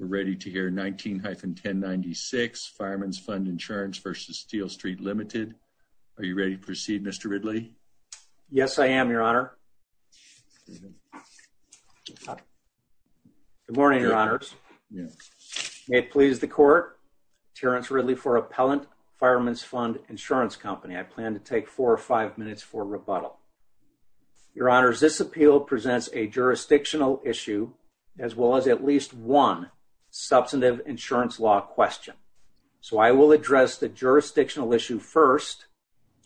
We're ready to hear 19-1096, Fireman's Fund Insurance v. Steele Street Limited. Are you ready to proceed, Mr. Ridley? Yes, I am, Your Honor. Good morning, Your Honors. May it please the Court, Terrence Ridley for Appellant, Fireman's Fund Insurance Company. I plan to take four or five minutes for rebuttal. Your Honors, this appeal presents a jurisdictional issue as well as at least one substantive insurance law question. So I will address the jurisdictional issue first,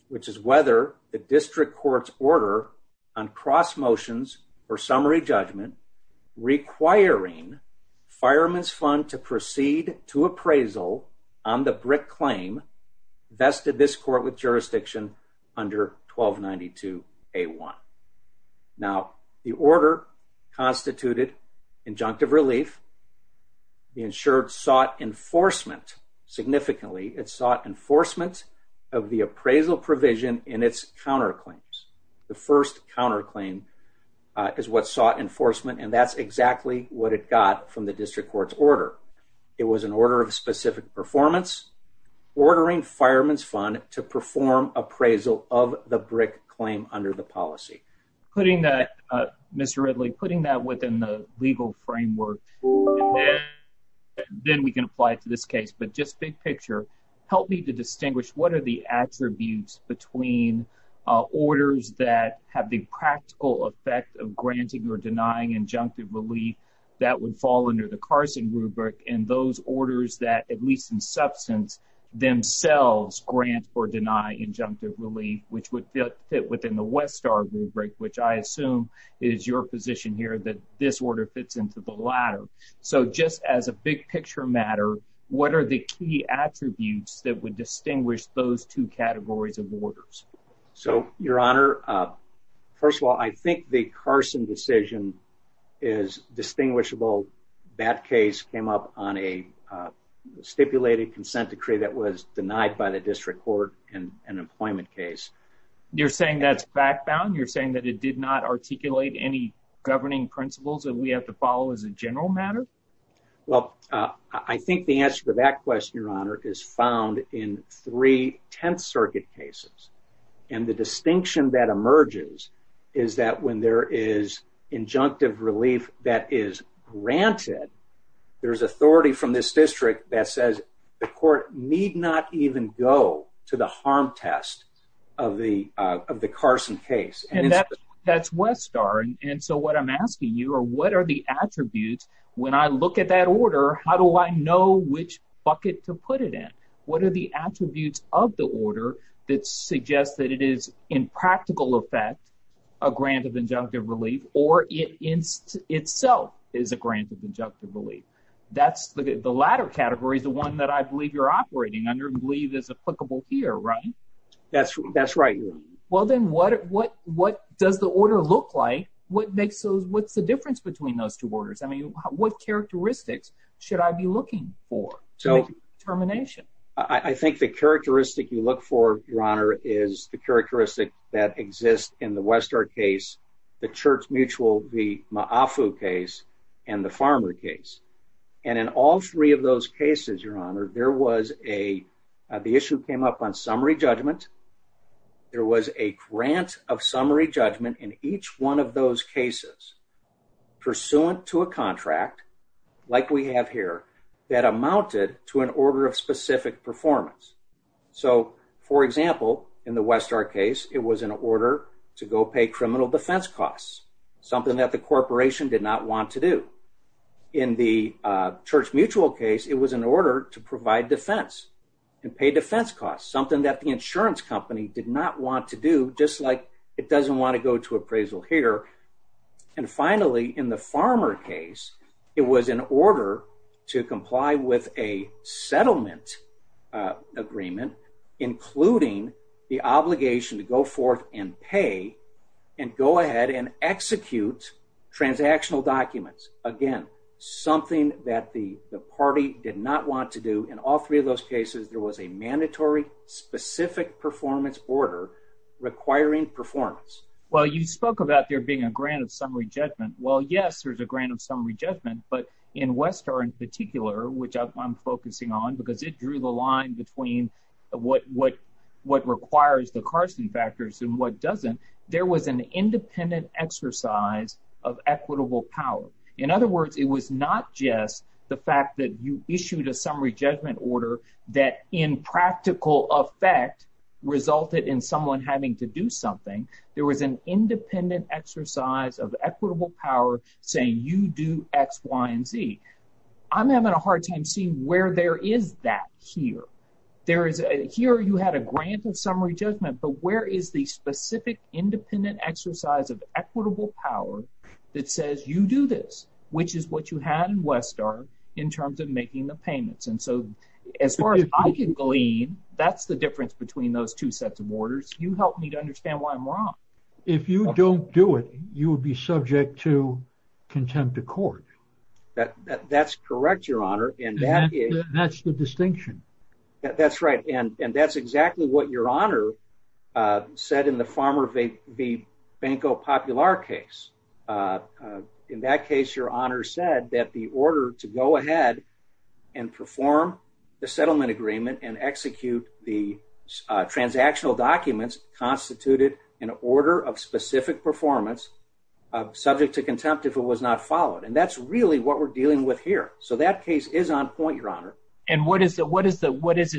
which is whether the District Court's order on cross motions or summary judgment requiring Fireman's Fund to proceed to appraisal on the BRIC claim vested this Court with jurisdiction under 1292A1. Now, the order constituted injunctive relief. The insured sought enforcement significantly. It sought enforcement of the appraisal provision in its counterclaims. The first counterclaim is what sought enforcement and that's exactly what it got from the District Court's order. It was an order of specific performance ordering Fireman's Fund to perform appraisal of the BRIC claim under the policy. Putting that, Mr. Ridley, putting that within the legal framework, then we can apply it to this case. But just big picture, help me to distinguish what are the attributes between orders that have the practical effect of granting or denying injunctive relief that would fall under the Carson rubric and those which would fit within the Westar rubric, which I assume is your position here that this order fits into the latter. So just as a big picture matter, what are the key attributes that would distinguish those two categories of orders? So, Your Honor, first of all, I think the Carson decision is distinguishable. That case came up on a stipulated consent decree that was in effect. And I think that's a key attribute of that case. You're saying that's fact-bound? You're saying that it did not articulate any governing principles that we have to follow as a general matter? Well, I think the answer to that question, Your Honor, is found in three Tenth Circuit cases. And the distinction that emerges is that when there is injunctive relief that is granted, there's authority from this district that says the court need not even go to the harm test of the Carson case. And that's Westar. And so what I'm asking you are what are the attributes when I look at that order, how do I know which bucket to put it in? What are the attributes of the order that suggests that it is in practical effect a grant of injunctive relief or it itself is a grant of injunctive relief? The latter category is the one that I believe you're operating under and believe is applicable here, right? That's right, Your Honor. Well, then what does the order look like? What's the difference between those two orders? I mean, what characteristics should I be looking for to make a determination? I think the characteristic you look for, Your Honor, is the characteristic that exists in the Westar case, the church mutual v. Ma'afu case and the farmer case. And in all three of those cases, Your Honor, there was a, the issue came up on summary judgment. There was a grant of summary judgment in each one of those cases pursuant to a contract like we have here that amounted to an order of specific performance. So, for example, in the Westar case, it was an order to go pay criminal defense costs, something that the corporation did not want to do. In the church mutual case, it was an order to provide defense and pay defense costs, something that the insurance company did not want to do, just like it doesn't want to go to appraisal here. And finally, in the farmer case, it was an order to comply with a settlement agreement, including the obligation to go forth and pay and go ahead and execute transactional documents. Again, something that the party did not want to do. In all three of those cases, there was a mandatory specific performance order requiring performance. Well, you spoke about there being a grant of summary judgment. Well, yes, there's a grant of summary judgment, but in Westar in particular, which I'm focusing on, because it drew the line between what requires the Carson factors and what doesn't, there was an independent exercise of equitable power. In other words, it was not just the fact that you issued a summary judgment order that in practical effect resulted in someone having to do something. There was an independent exercise of equitable power saying you do X, Y, and Z. I'm having a hard time seeing where there is that here. Here you had a grant of summary judgment, but where is the specific independent exercise of equitable power that says you do this, which is what you had in Westar in terms of making the payments. And so as far as I can glean, that's the difference between those two sets of orders. You help me to understand why I'm wrong. If you don't do it, you will be subject to contempt of court. That's correct, your honor. And that's the distinction. That's right. And that's exactly what your honor said in the Farmer v. Banco Popular case. In that case, your honor said that the order to go ahead and perform the settlement agreement and execute the transactional documents constituted an order of specific performance subject to contempt if it was not followed. And that's really what we're dealing with here. So that case is on point, your honor. And what is it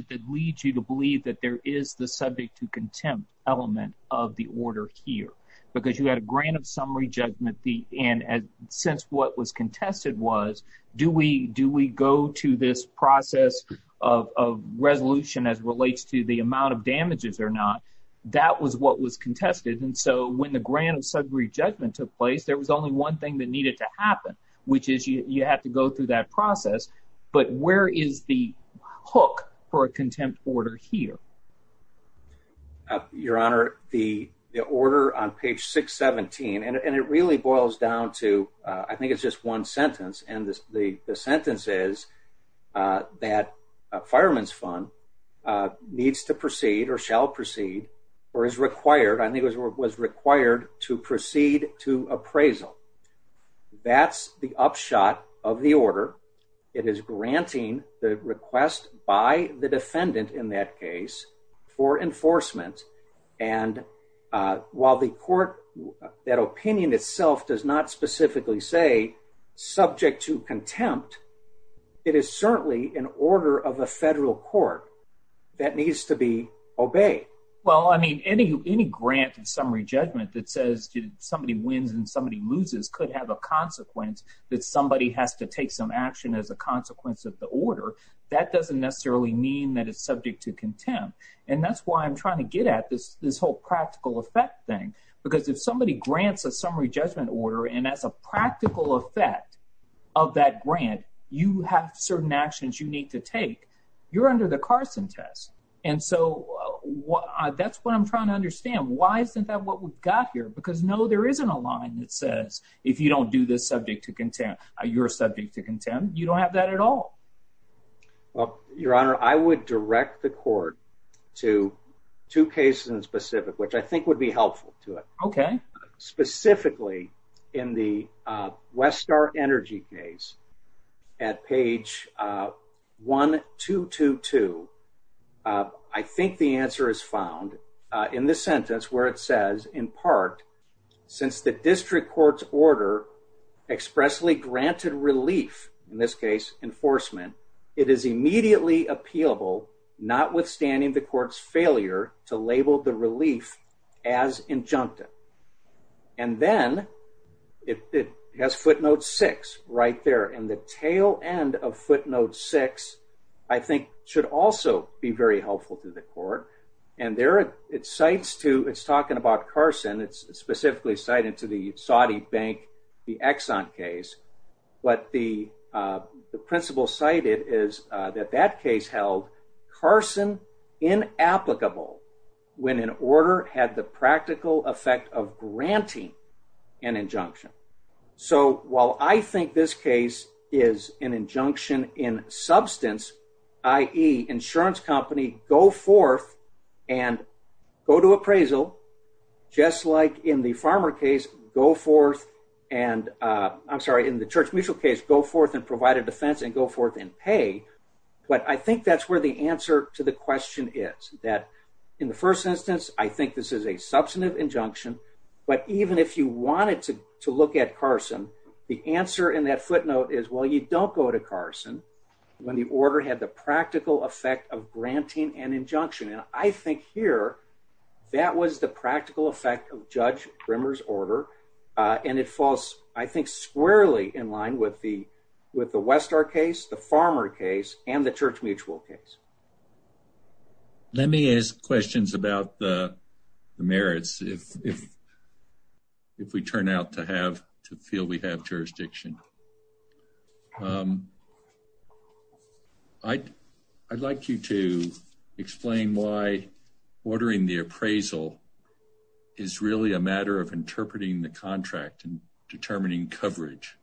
that leads you to believe that there is the subject to contempt element of the order here? Because you had a grant of summary judgment. And since what was contested was, do we go to this process of resolution as relates to the amount of damages or not? That was what was contested. And so when the grant of summary judgment took place, there was only one thing that needed to happen, which is you have to go through that process. But where is the hook for a contempt order here? Your honor, the order on page 617, and it really boils down to, I think it's just one sentence. And the sentence is that a fireman's fund needs to proceed or shall proceed or is required, I think it was required to proceed to appraisal. That's the upshot of the order. It is granting the request by the defendant in that case for enforcement. And while the court, that opinion itself does not specifically say subject to contempt, it is certainly an order of a federal court that needs to be obeyed. Well, I mean, any grant of summary judgment that says somebody wins and somebody loses could have a consequence that somebody has to take some action as a consequence of the order. That doesn't necessarily mean that it's subject to contempt. And that's why I'm talking about the practical effect thing. Because if somebody grants a summary judgment order, and as a practical effect of that grant, you have certain actions you need to take, you're under the Carson test. And so that's what I'm trying to understand. Why isn't that what we've got here? Because no, there isn't a line that says, if you don't do this subject to contempt, you're subject to contempt. You don't have that at all. Well, Your Honor, I would direct the court to two cases in specific, which I think would be helpful to it. Okay. Specifically, in the Westar Energy case, at page 1222. I think the answer is found in this sentence where it says, in part, since the district court's order expressly granted relief, in this case, enforcement, it is immediately appealable, notwithstanding the court's failure to label the relief as injunctive. And then it has footnote six right there. And the tail end of footnote six, I think should also be very helpful to the court. And there it cites to, it's talking about Carson, it's specifically cited to the Saudi bank, the Exxon case. What the principal cited is that that case held Carson inapplicable when an order had the practical effect of granting an injunction. So while I think this case is an injunction in substance, i.e. insurance company go forth and go to appraisal, just like in the farmer case, go forth and, I'm sorry, in the Church Mutual case, go forth and provide a defense and go forth and pay. But I think that's where the answer to the question is, that in the first instance, I think this is a substantive injunction. But even if you wanted to look at Carson, the answer in that footnote is, well, you don't go to Carson when the order had the practical effect of granting an injunction. And I think here, that was the practical effect of Judge Brimmer's order. And it falls, I think, squarely in line with the Westar case, the farmer case, and the Church Mutual case. Let me ask questions about the merits if we turn out to have, to feel we have jurisdiction. I'd like you to explain why ordering the appraisal is really a matter of interpreting the contract and determining coverage.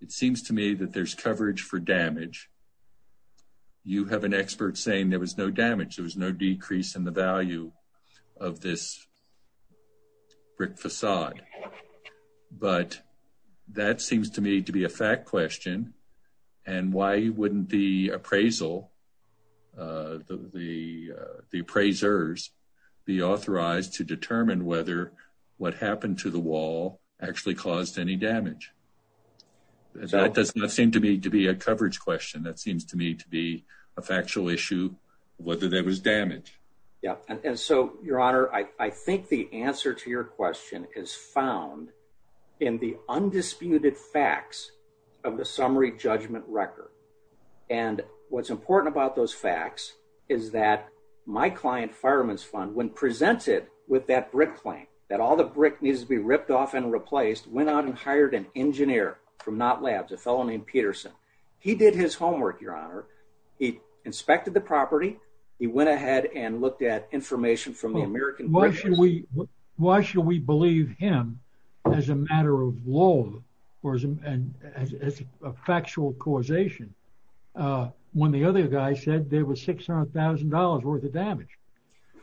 It seems to me that there's coverage for damage. You have an expert saying there was no damage, there was no decrease in the value of this brick facade. But that seems to me to be a fact question. And why wouldn't the whether what happened to the wall actually caused any damage? That does not seem to be to be a coverage question. That seems to me to be a factual issue, whether there was damage. Yeah. And so, Your Honor, I think the answer to your question is found in the undisputed facts of the summary judgment record. And what's important about those facts is that my client, Fireman's Fund, when presented with that brick claim, that all the brick needs to be ripped off and replaced, went out and hired an engineer from Knott Labs, a fellow named Peterson. He did his homework, Your Honor. He inspected the property. He went ahead and looked at information from the American... Why should we believe him as a matter of law or as a factual causation, when the other guy said there was $600,000 worth of damage?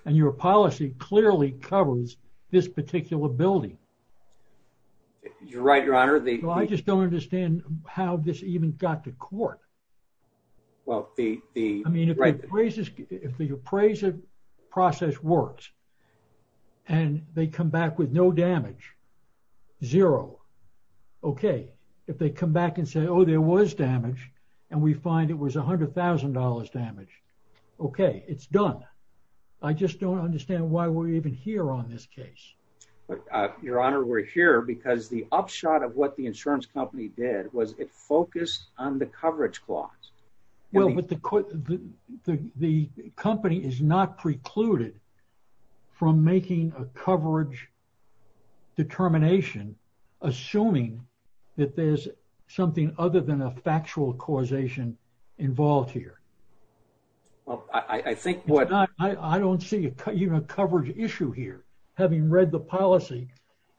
And your policy clearly covers this particular building. You're right, Your Honor. I just don't understand how this even got to court. Well, the... I mean, if the appraisal process works and they come back with no damage, zero. Okay. If they come back and say, oh, there was damage and we find it was $100,000 damage. Okay. It's done. I just don't understand why we're even here on this case. Your Honor, we're here because the upshot of what the insurance company did was it focused on the coverage clause. Well, but the company is not precluded from making a coverage determination, assuming that there's something other than a factual causation involved here. Well, I think what... I don't see even a coverage issue here, having read the policy,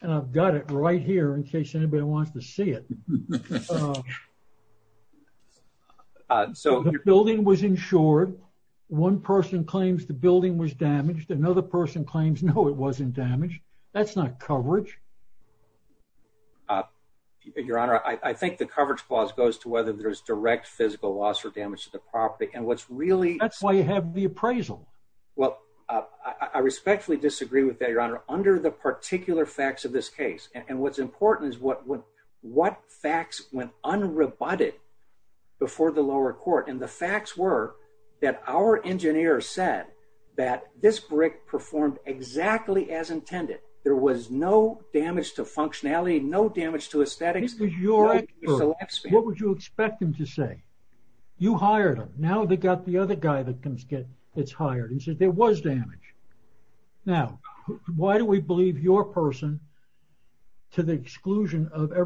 and I've got it right here in case anybody wants to see it. So the building was insured. One person claims the building was damaged. Another person claims, no, it wasn't damaged. That's not coverage. Your Honor, I think the coverage clause goes to whether there's direct physical loss or damage to the property. And what's really... That's why you have the appraisal. Well, I respectfully disagree with that, Your Honor, under the particular facts of this case. And what's important is what facts went unrebutted before the lower court. And the facts were that our engineer said that this brick performed exactly as intended. There was no damage to functionality, no damage to aesthetics. What would you expect him to say? You hired him. Now they got the other guy that comes get... that's hired. He said there was damage. Now, why do we believe your person to the exclusion of in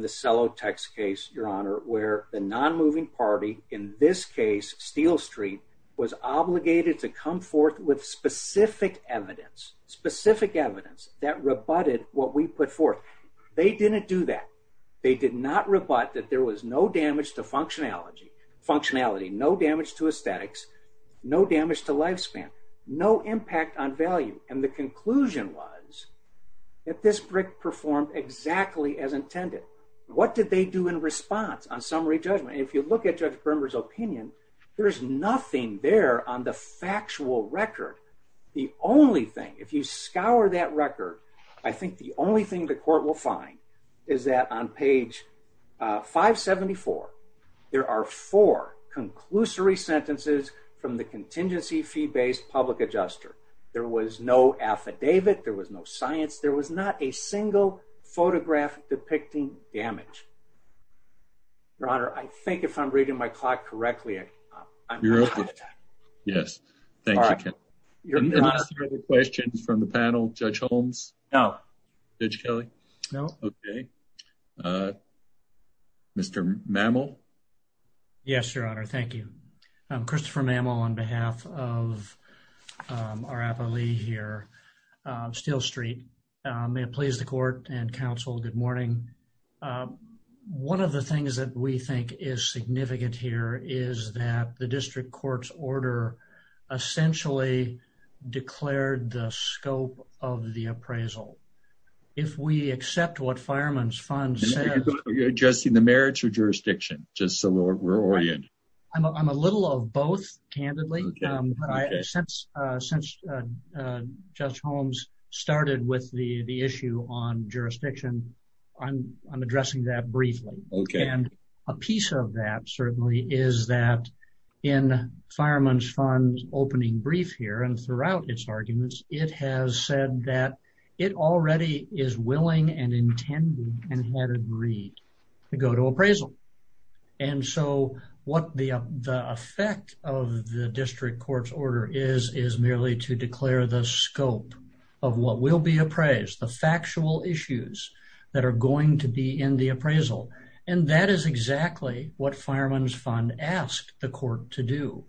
the cello text case, Your Honor, where the non-moving party, in this case, Steel Street, was obligated to come forth with specific evidence, specific evidence that rebutted what we put forth. They didn't do that. They did not rebut that there was no damage to functionality, no damage to aesthetics, no damage to lifespan, no impact on value. And the conclusion was that this brick performed exactly as intended. What did they do in response on summary judgment? If you look at Judge Bermer's opinion, there's nothing there on the factual record. The only thing, if you scour that record, I think the only thing the court will find is that on page 574, there are four conclusory sentences from the contingency fee-based public adjuster. There was no affidavit. There was no science. There was not a single photograph depicting damage. Your Honor, I think if I'm reading my clock correctly. Yes, thank you. Any other questions from the panel? Judge Holmes? No. Judge Kelly? No. Okay. Mr. Mamill? Yes, Your Honor. Thank you. I'm Christopher Mamill on behalf of our appellee here, Steel Street. May it please the court and counsel, good morning. One of the things that we think is significant here is that the district court's order essentially declared the scope of the appraisal. If we accept what Fireman's Fund says- Are you addressing the merits or jurisdiction? Just so we're oriented. I'm a little of both, candidly. Since Judge Holmes started with the issue on jurisdiction, I'm addressing that briefly. A piece of that certainly is that in Fireman's Fund's opening brief here and throughout its arguments, it has said that it already is willing and intended and had agreed to go to appraisal. What the effect of the district court's order is, is merely to declare the scope of what will be appraised, the factual issues that are going to be in the appraisal. That is exactly what Fireman's Fund asked the court to do.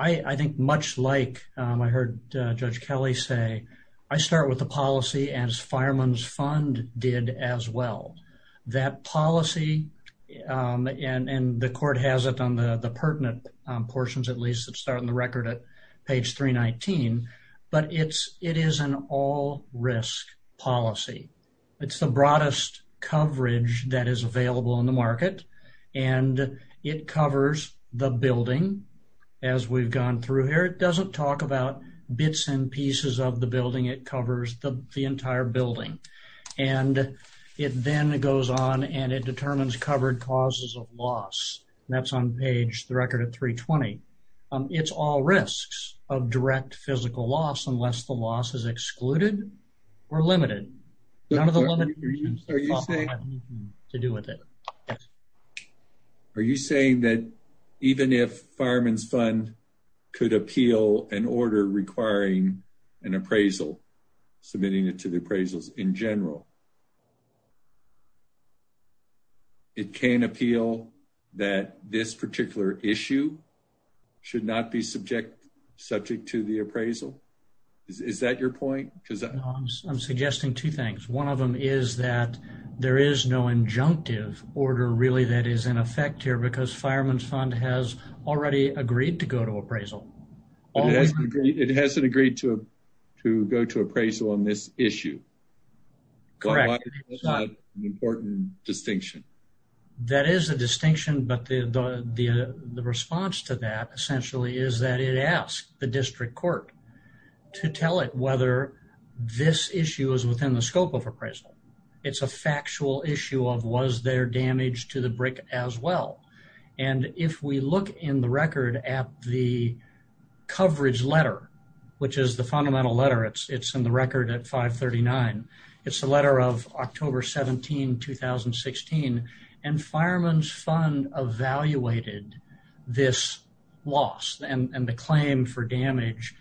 I think much like I heard Judge Kelly say, I start with the policy as Fireman's Fund did as well. That policy and the court has it on the pertinent portions at least that start in the record at page 319, but it is an all risk policy. It's the broadest coverage that is available in the market and it covers the building as we've gone through here. It doesn't talk about bits and pieces of the building. It covers the entire building. It then goes on and it determines covered causes of loss. That's on page, the record at 320. It's all risks of direct physical loss unless the loss is excluded or limited. None of the limitations have anything to do with it. Are you saying that even if Fireman's Fund could appeal an order requiring an appraisal, submitting it to the that this particular issue should not be subject to the appraisal? Is that your point? I'm suggesting two things. One of them is that there is no injunctive order that is in effect here because Fireman's Fund has already agreed to go to appraisal. It hasn't agreed to go to distinction. That is a distinction, but the response to that essentially is that it asked the district court to tell it whether this issue is within the scope of appraisal. It's a factual issue of was there damage to the brick as well. If we look in the record at the coverage letter, which is the fundamental letter, it's in the record at 539. It's the letter of October 17, 2016. Fireman's Fund evaluated this loss and the claim for damage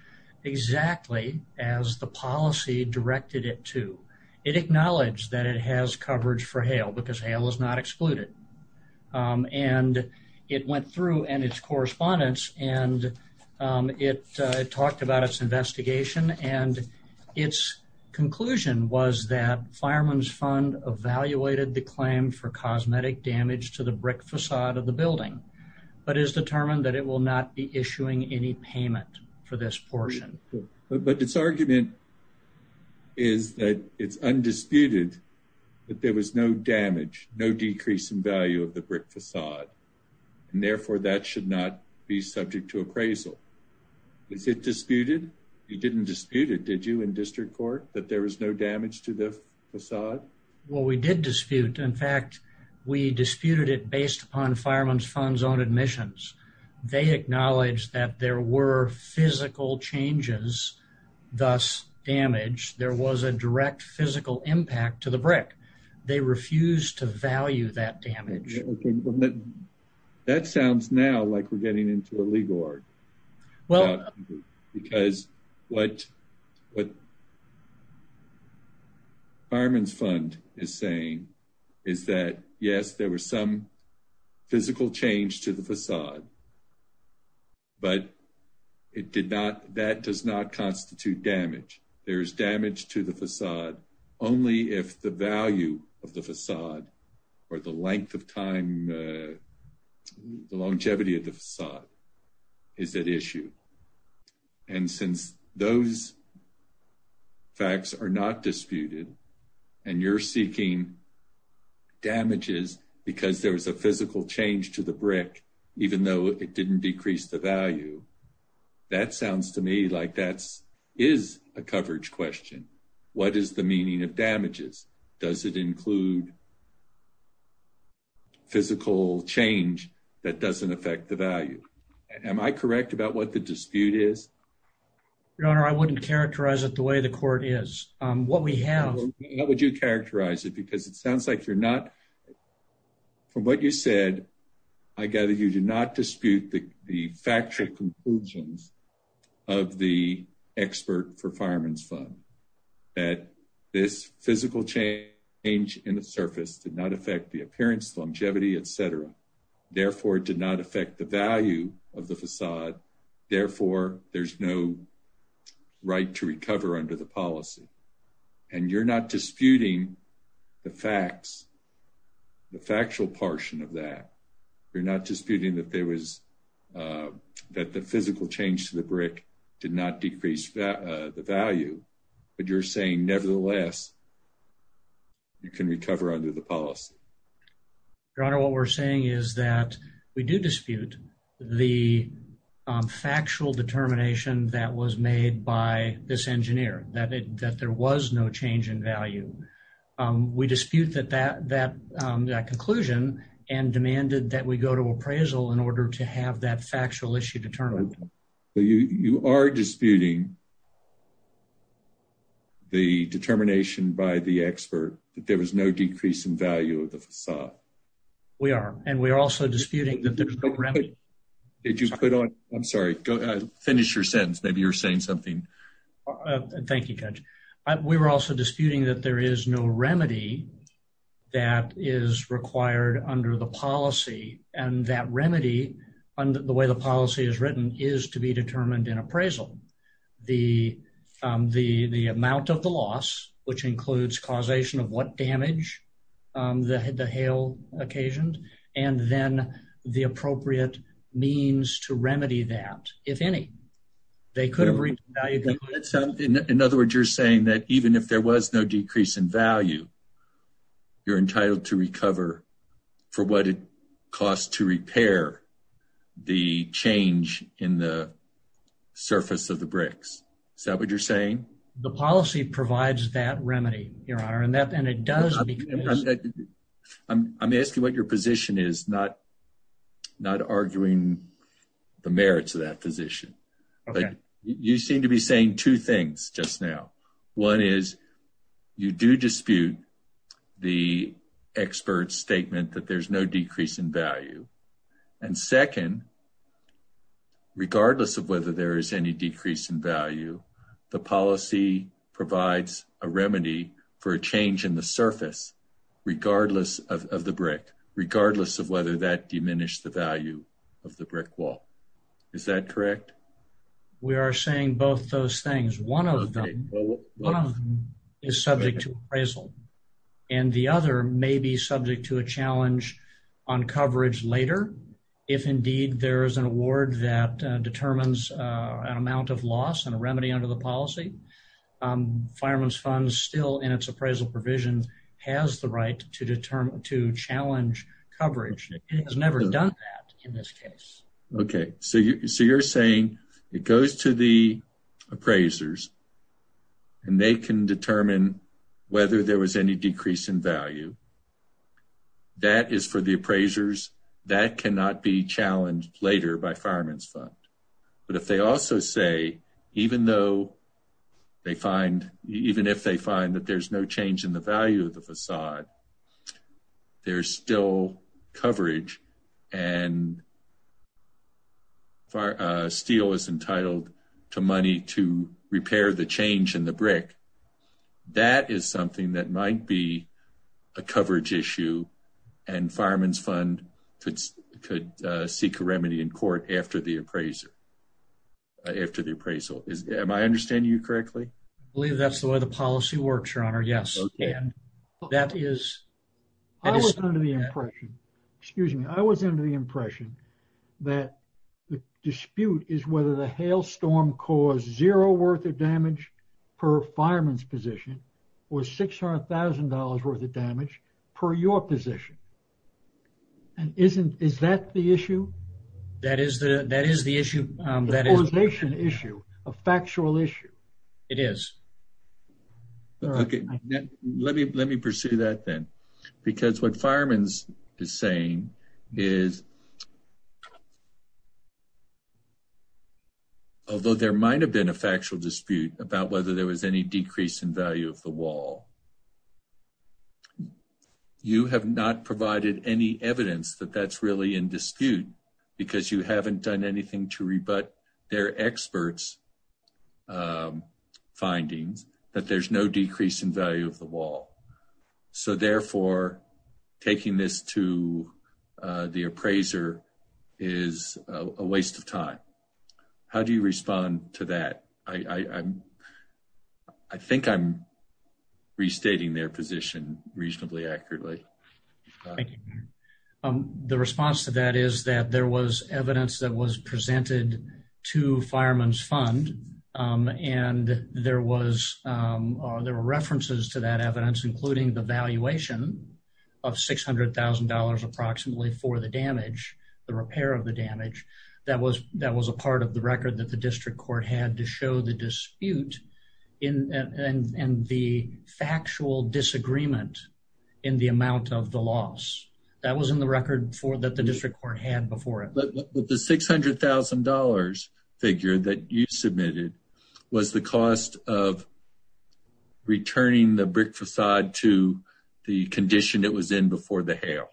exactly as the policy directed it to. It acknowledged that it has coverage for hail because hail is not excluded. It went through and its correspondence and it talked about its investigation and its conclusion was that Fireman's Fund evaluated the claim for cosmetic damage to the brick facade of the building, but is determined that it will not be issuing any payment for this portion. But its argument is that it's undisputed that there was no damage, no decrease in value of the brick facade, and therefore that should not be subject to appraisal. Is it disputed? You didn't dispute it, did you, in district court, that there was no damage to the facade? Well, we did dispute. In fact, we disputed it based upon Fireman's Fund's own admissions. They acknowledged that there were physical changes, thus damage. There was a direct physical impact to the brick. They refused to value that damage. That sounds now like we're getting into a legal argument. Well, because what Fireman's Fund is saying is that, yes, there was some physical change to the facade, but that does not constitute damage. There is damage to the facade only if the value of the facade or the length of time, the longevity of the facade is at issue. And since those facts are not disputed and you're seeking damages because there was a physical change to the brick, even though it didn't decrease the value, that sounds to me like that is a coverage question. What is the meaning of damages? Does it include physical change that doesn't affect the value? Am I correct about what the dispute is? Your Honor, I wouldn't characterize it the way the court is. What we have... How would you characterize it? Because it sounds like you're not... From what you said, I gather you do not dispute the factual conclusions of the expert for Fireman's Fund, that this physical change in the surface did not affect the appearance, longevity, etc. Therefore, it did not affect the value of the facade. Therefore, there's no right to recover under the policy. And you're not disputing the facts, the factual portion of that. You're not disputing that there was... The value. But you're saying, nevertheless, you can recover under the policy. Your Honor, what we're saying is that we do dispute the factual determination that was made by this engineer, that there was no change in value. We dispute that conclusion and demanded that we determine the determination by the expert, that there was no decrease in value of the facade. We are. And we are also disputing that there's no remedy. Did you put on... I'm sorry. Finish your sentence. Maybe you're saying something. Thank you, Judge. We were also disputing that there is no remedy that is required under the policy. And that remedy, the way the policy is written, is to be determined in appraisal. The amount of the loss, which includes causation of what damage the hail occasioned, and then the appropriate means to remedy that, if any. They could have... In other words, you're saying that even if there was no decrease in value, you're entitled to recover for what it costs to repair the change in the surface of the bricks. Is that what you're saying? The policy provides that remedy, Your Honor. And it does because... I'm asking what your position is, not arguing the merits of that position. But you seem to be saying two things just now. One is, you do dispute the expert's statement that there's no decrease in value. And second, regardless of whether there is any decrease in value, the policy provides a remedy for a change in the surface, regardless of the brick, regardless of whether that diminished the value of the brick wall. Is that correct? We are saying both those things. One of them is subject to appraisal. And the other may be subject to a challenge on coverage later, if indeed there is an award that determines an amount of loss and a remedy under the policy. Fireman's Fund, still in its appraisal provisions, has the right to challenge coverage. It has never done that in this case. Okay. So you're saying it goes to the appraisers, and they can determine whether there was any decrease in value. That is for the appraisers. That cannot be challenged later by Fireman's Fund. But if they also say, even if they find that there's no change in the value of the facade, there's still coverage and steel is entitled to money to repair the change in the brick. That is something that might be a coverage issue, and Fireman's Fund could seek a remedy in court after the appraisal. Am I understanding you correctly? I believe that's the way the policy works, Your Honor. Yes. I was under the impression that the dispute is whether the hailstorm caused zero worth of damage per fireman's position or $600,000 worth of damage per your position. Is that the issue? That is the issue. The causation issue, a factual issue. It is. Okay. Let me pursue that then. Because what Fireman's is saying is, although there might have been a factual dispute about whether there was any decrease in value of the wall, you have not provided any evidence that that's really in dispute because you haven't done to rebut their experts' findings that there's no decrease in value of the wall. So therefore, taking this to the appraiser is a waste of time. How do you respond to that? I think I'm restating their position reasonably accurately. Thank you. The response to that is that there was evidence that was presented to Fireman's Fund, and there were references to that evidence, including the valuation of $600,000 approximately for the damage, the repair of the damage. That was a part of the record that the District Court had to show the dispute and the factual disagreement in the amount of the loss. That was in the record that the District Court had before it. But the $600,000 figure that you submitted was the cost of returning the brick facade to the condition it was in before the hail.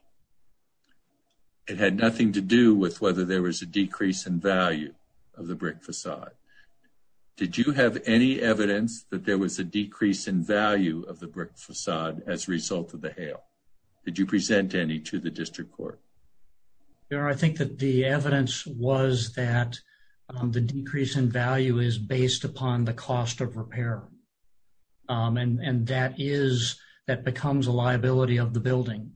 It had nothing to do with whether there was a decrease in value of the brick facade. Did you have any evidence that there was a decrease in value of the brick facade as a result of the hail? Did you present any to the District Court? I think that the evidence was that the decrease in value is based upon the cost of repair, and that becomes a liability of the building.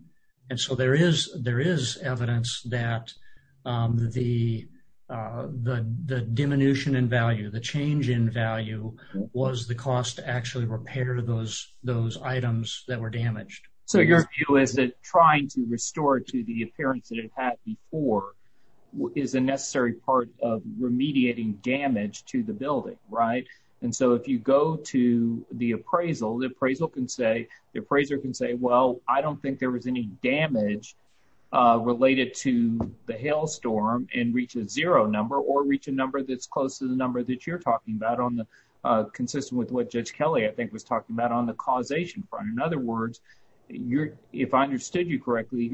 There is evidence that the diminution in value, the change in value, was the cost to actually repair those items that were damaged. Your view is that trying to restore to the appearance that it had before is a necessary part of remediating damage to the building. If you go to the appraisal, the appraiser can say, well, I don't think there was any damage related to the hail storm and reach a zero number or reach a number that's close to the number that you're talking about, consistent with what Judge Kelly, I think, was talking about on the causation front. In other words, if I understood you correctly,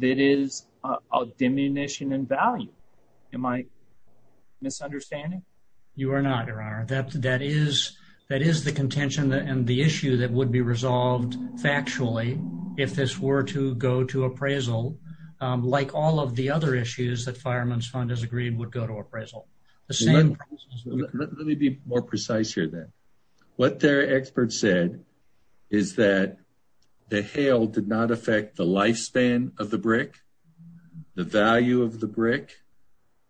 that is a diminution in value. Am I misunderstanding? You are not, Your Honor. That is the contention and the issue that would be resolved factually if this were to go to appraisal, like all of the other issues that Fireman's Fund has agreed would go to appraisal. Let me be more precise here then. What their experts said is that the hail did not affect the lifespan of the brick, the value of the brick,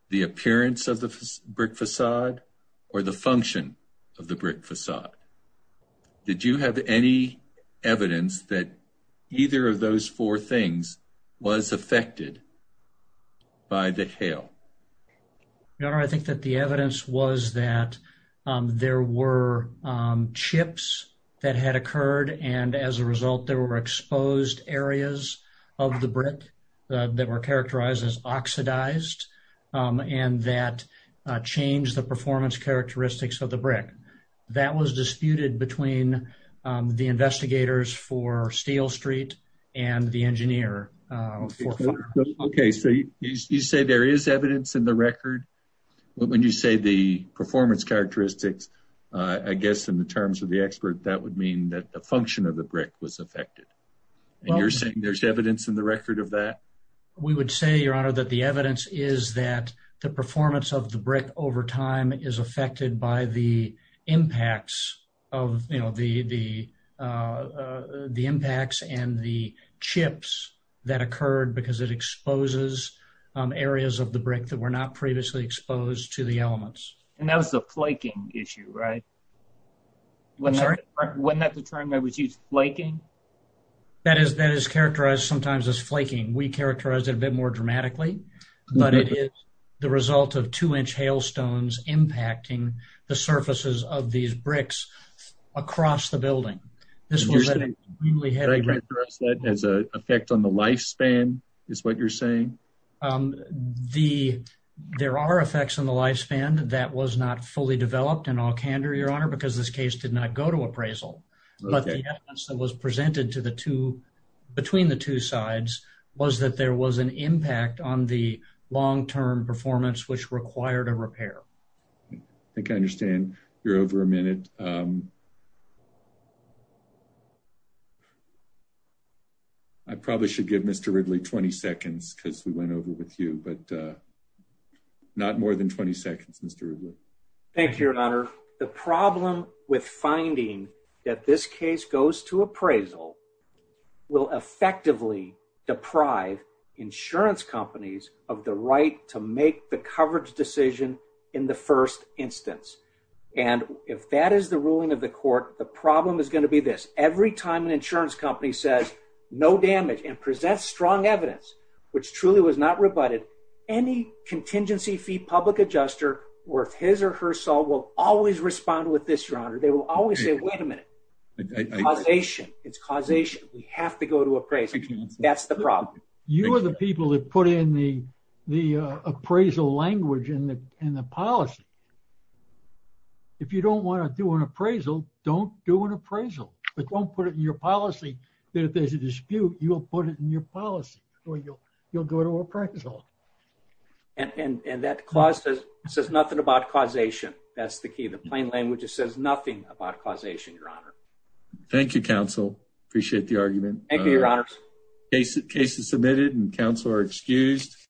the appearance of the brick facade, or the function of the brick facade. Did you have any evidence that either of those four things was affected by the hail? Your Honor, I think that the evidence was that there were chips that had occurred and as a result there were exposed areas of the brick that were characterized as oxidized and that changed the performance characteristics of the brick. That was disputed between the investigators for Steel Record. When you say the performance characteristics, I guess in the terms of the expert that would mean that the function of the brick was affected. You're saying there's evidence in the record of that? We would say, Your Honor, that the evidence is that the performance of the brick over time is affected by the impacts and the chips that occurred because it exposes areas of the brick that were not previously exposed to the elements. And that was the flaking issue, right? I'm sorry? Wasn't that the term that was used? Flaking? That is characterized sometimes as flaking. We characterize it a bit more dramatically, but it is the result of two-inch hailstones impacting the surfaces of these bricks across the building. This was an extremely heavy... As an effect on the lifespan, is what you're saying? There are effects on the lifespan that was not fully developed in Alcantara, Your Honor, because this case did not go to appraisal. But the evidence that was presented between the two sides was that there was an impact on the long-term performance which required a repair. I think I understand you're over a minute. I probably should give Mr. Ridley 20 seconds because we went over with you, but not more than 20 seconds, Mr. Ridley. Thank you, Your Honor. The problem with finding that this case goes to appraisal will effectively deprive insurance companies of the right to make the coverage decision in the first instance. And if that is the ruling of the court, the problem is going to be this. Every time an insurance company says, no damage and presents strong evidence, which truly was not rebutted, any contingency fee public adjuster worth his or her salt will always respond with this, Your Honor. They will always say, wait a minute, causation. It's causation. We have to go to appraisal. That's the problem. You are the people that put in the appraisal language in the policy. If you don't want to do an appraisal, don't do an appraisal. But don't put it in your policy that if there's a dispute, you'll put it in your policy or you'll go to appraisal. And that clause says nothing about causation. That's the key. The plain language just says nothing about causation, Your Honor. Thank you, counsel. Appreciate the argument. Thank you, Your Honor. Case is submitted and counsel are excused.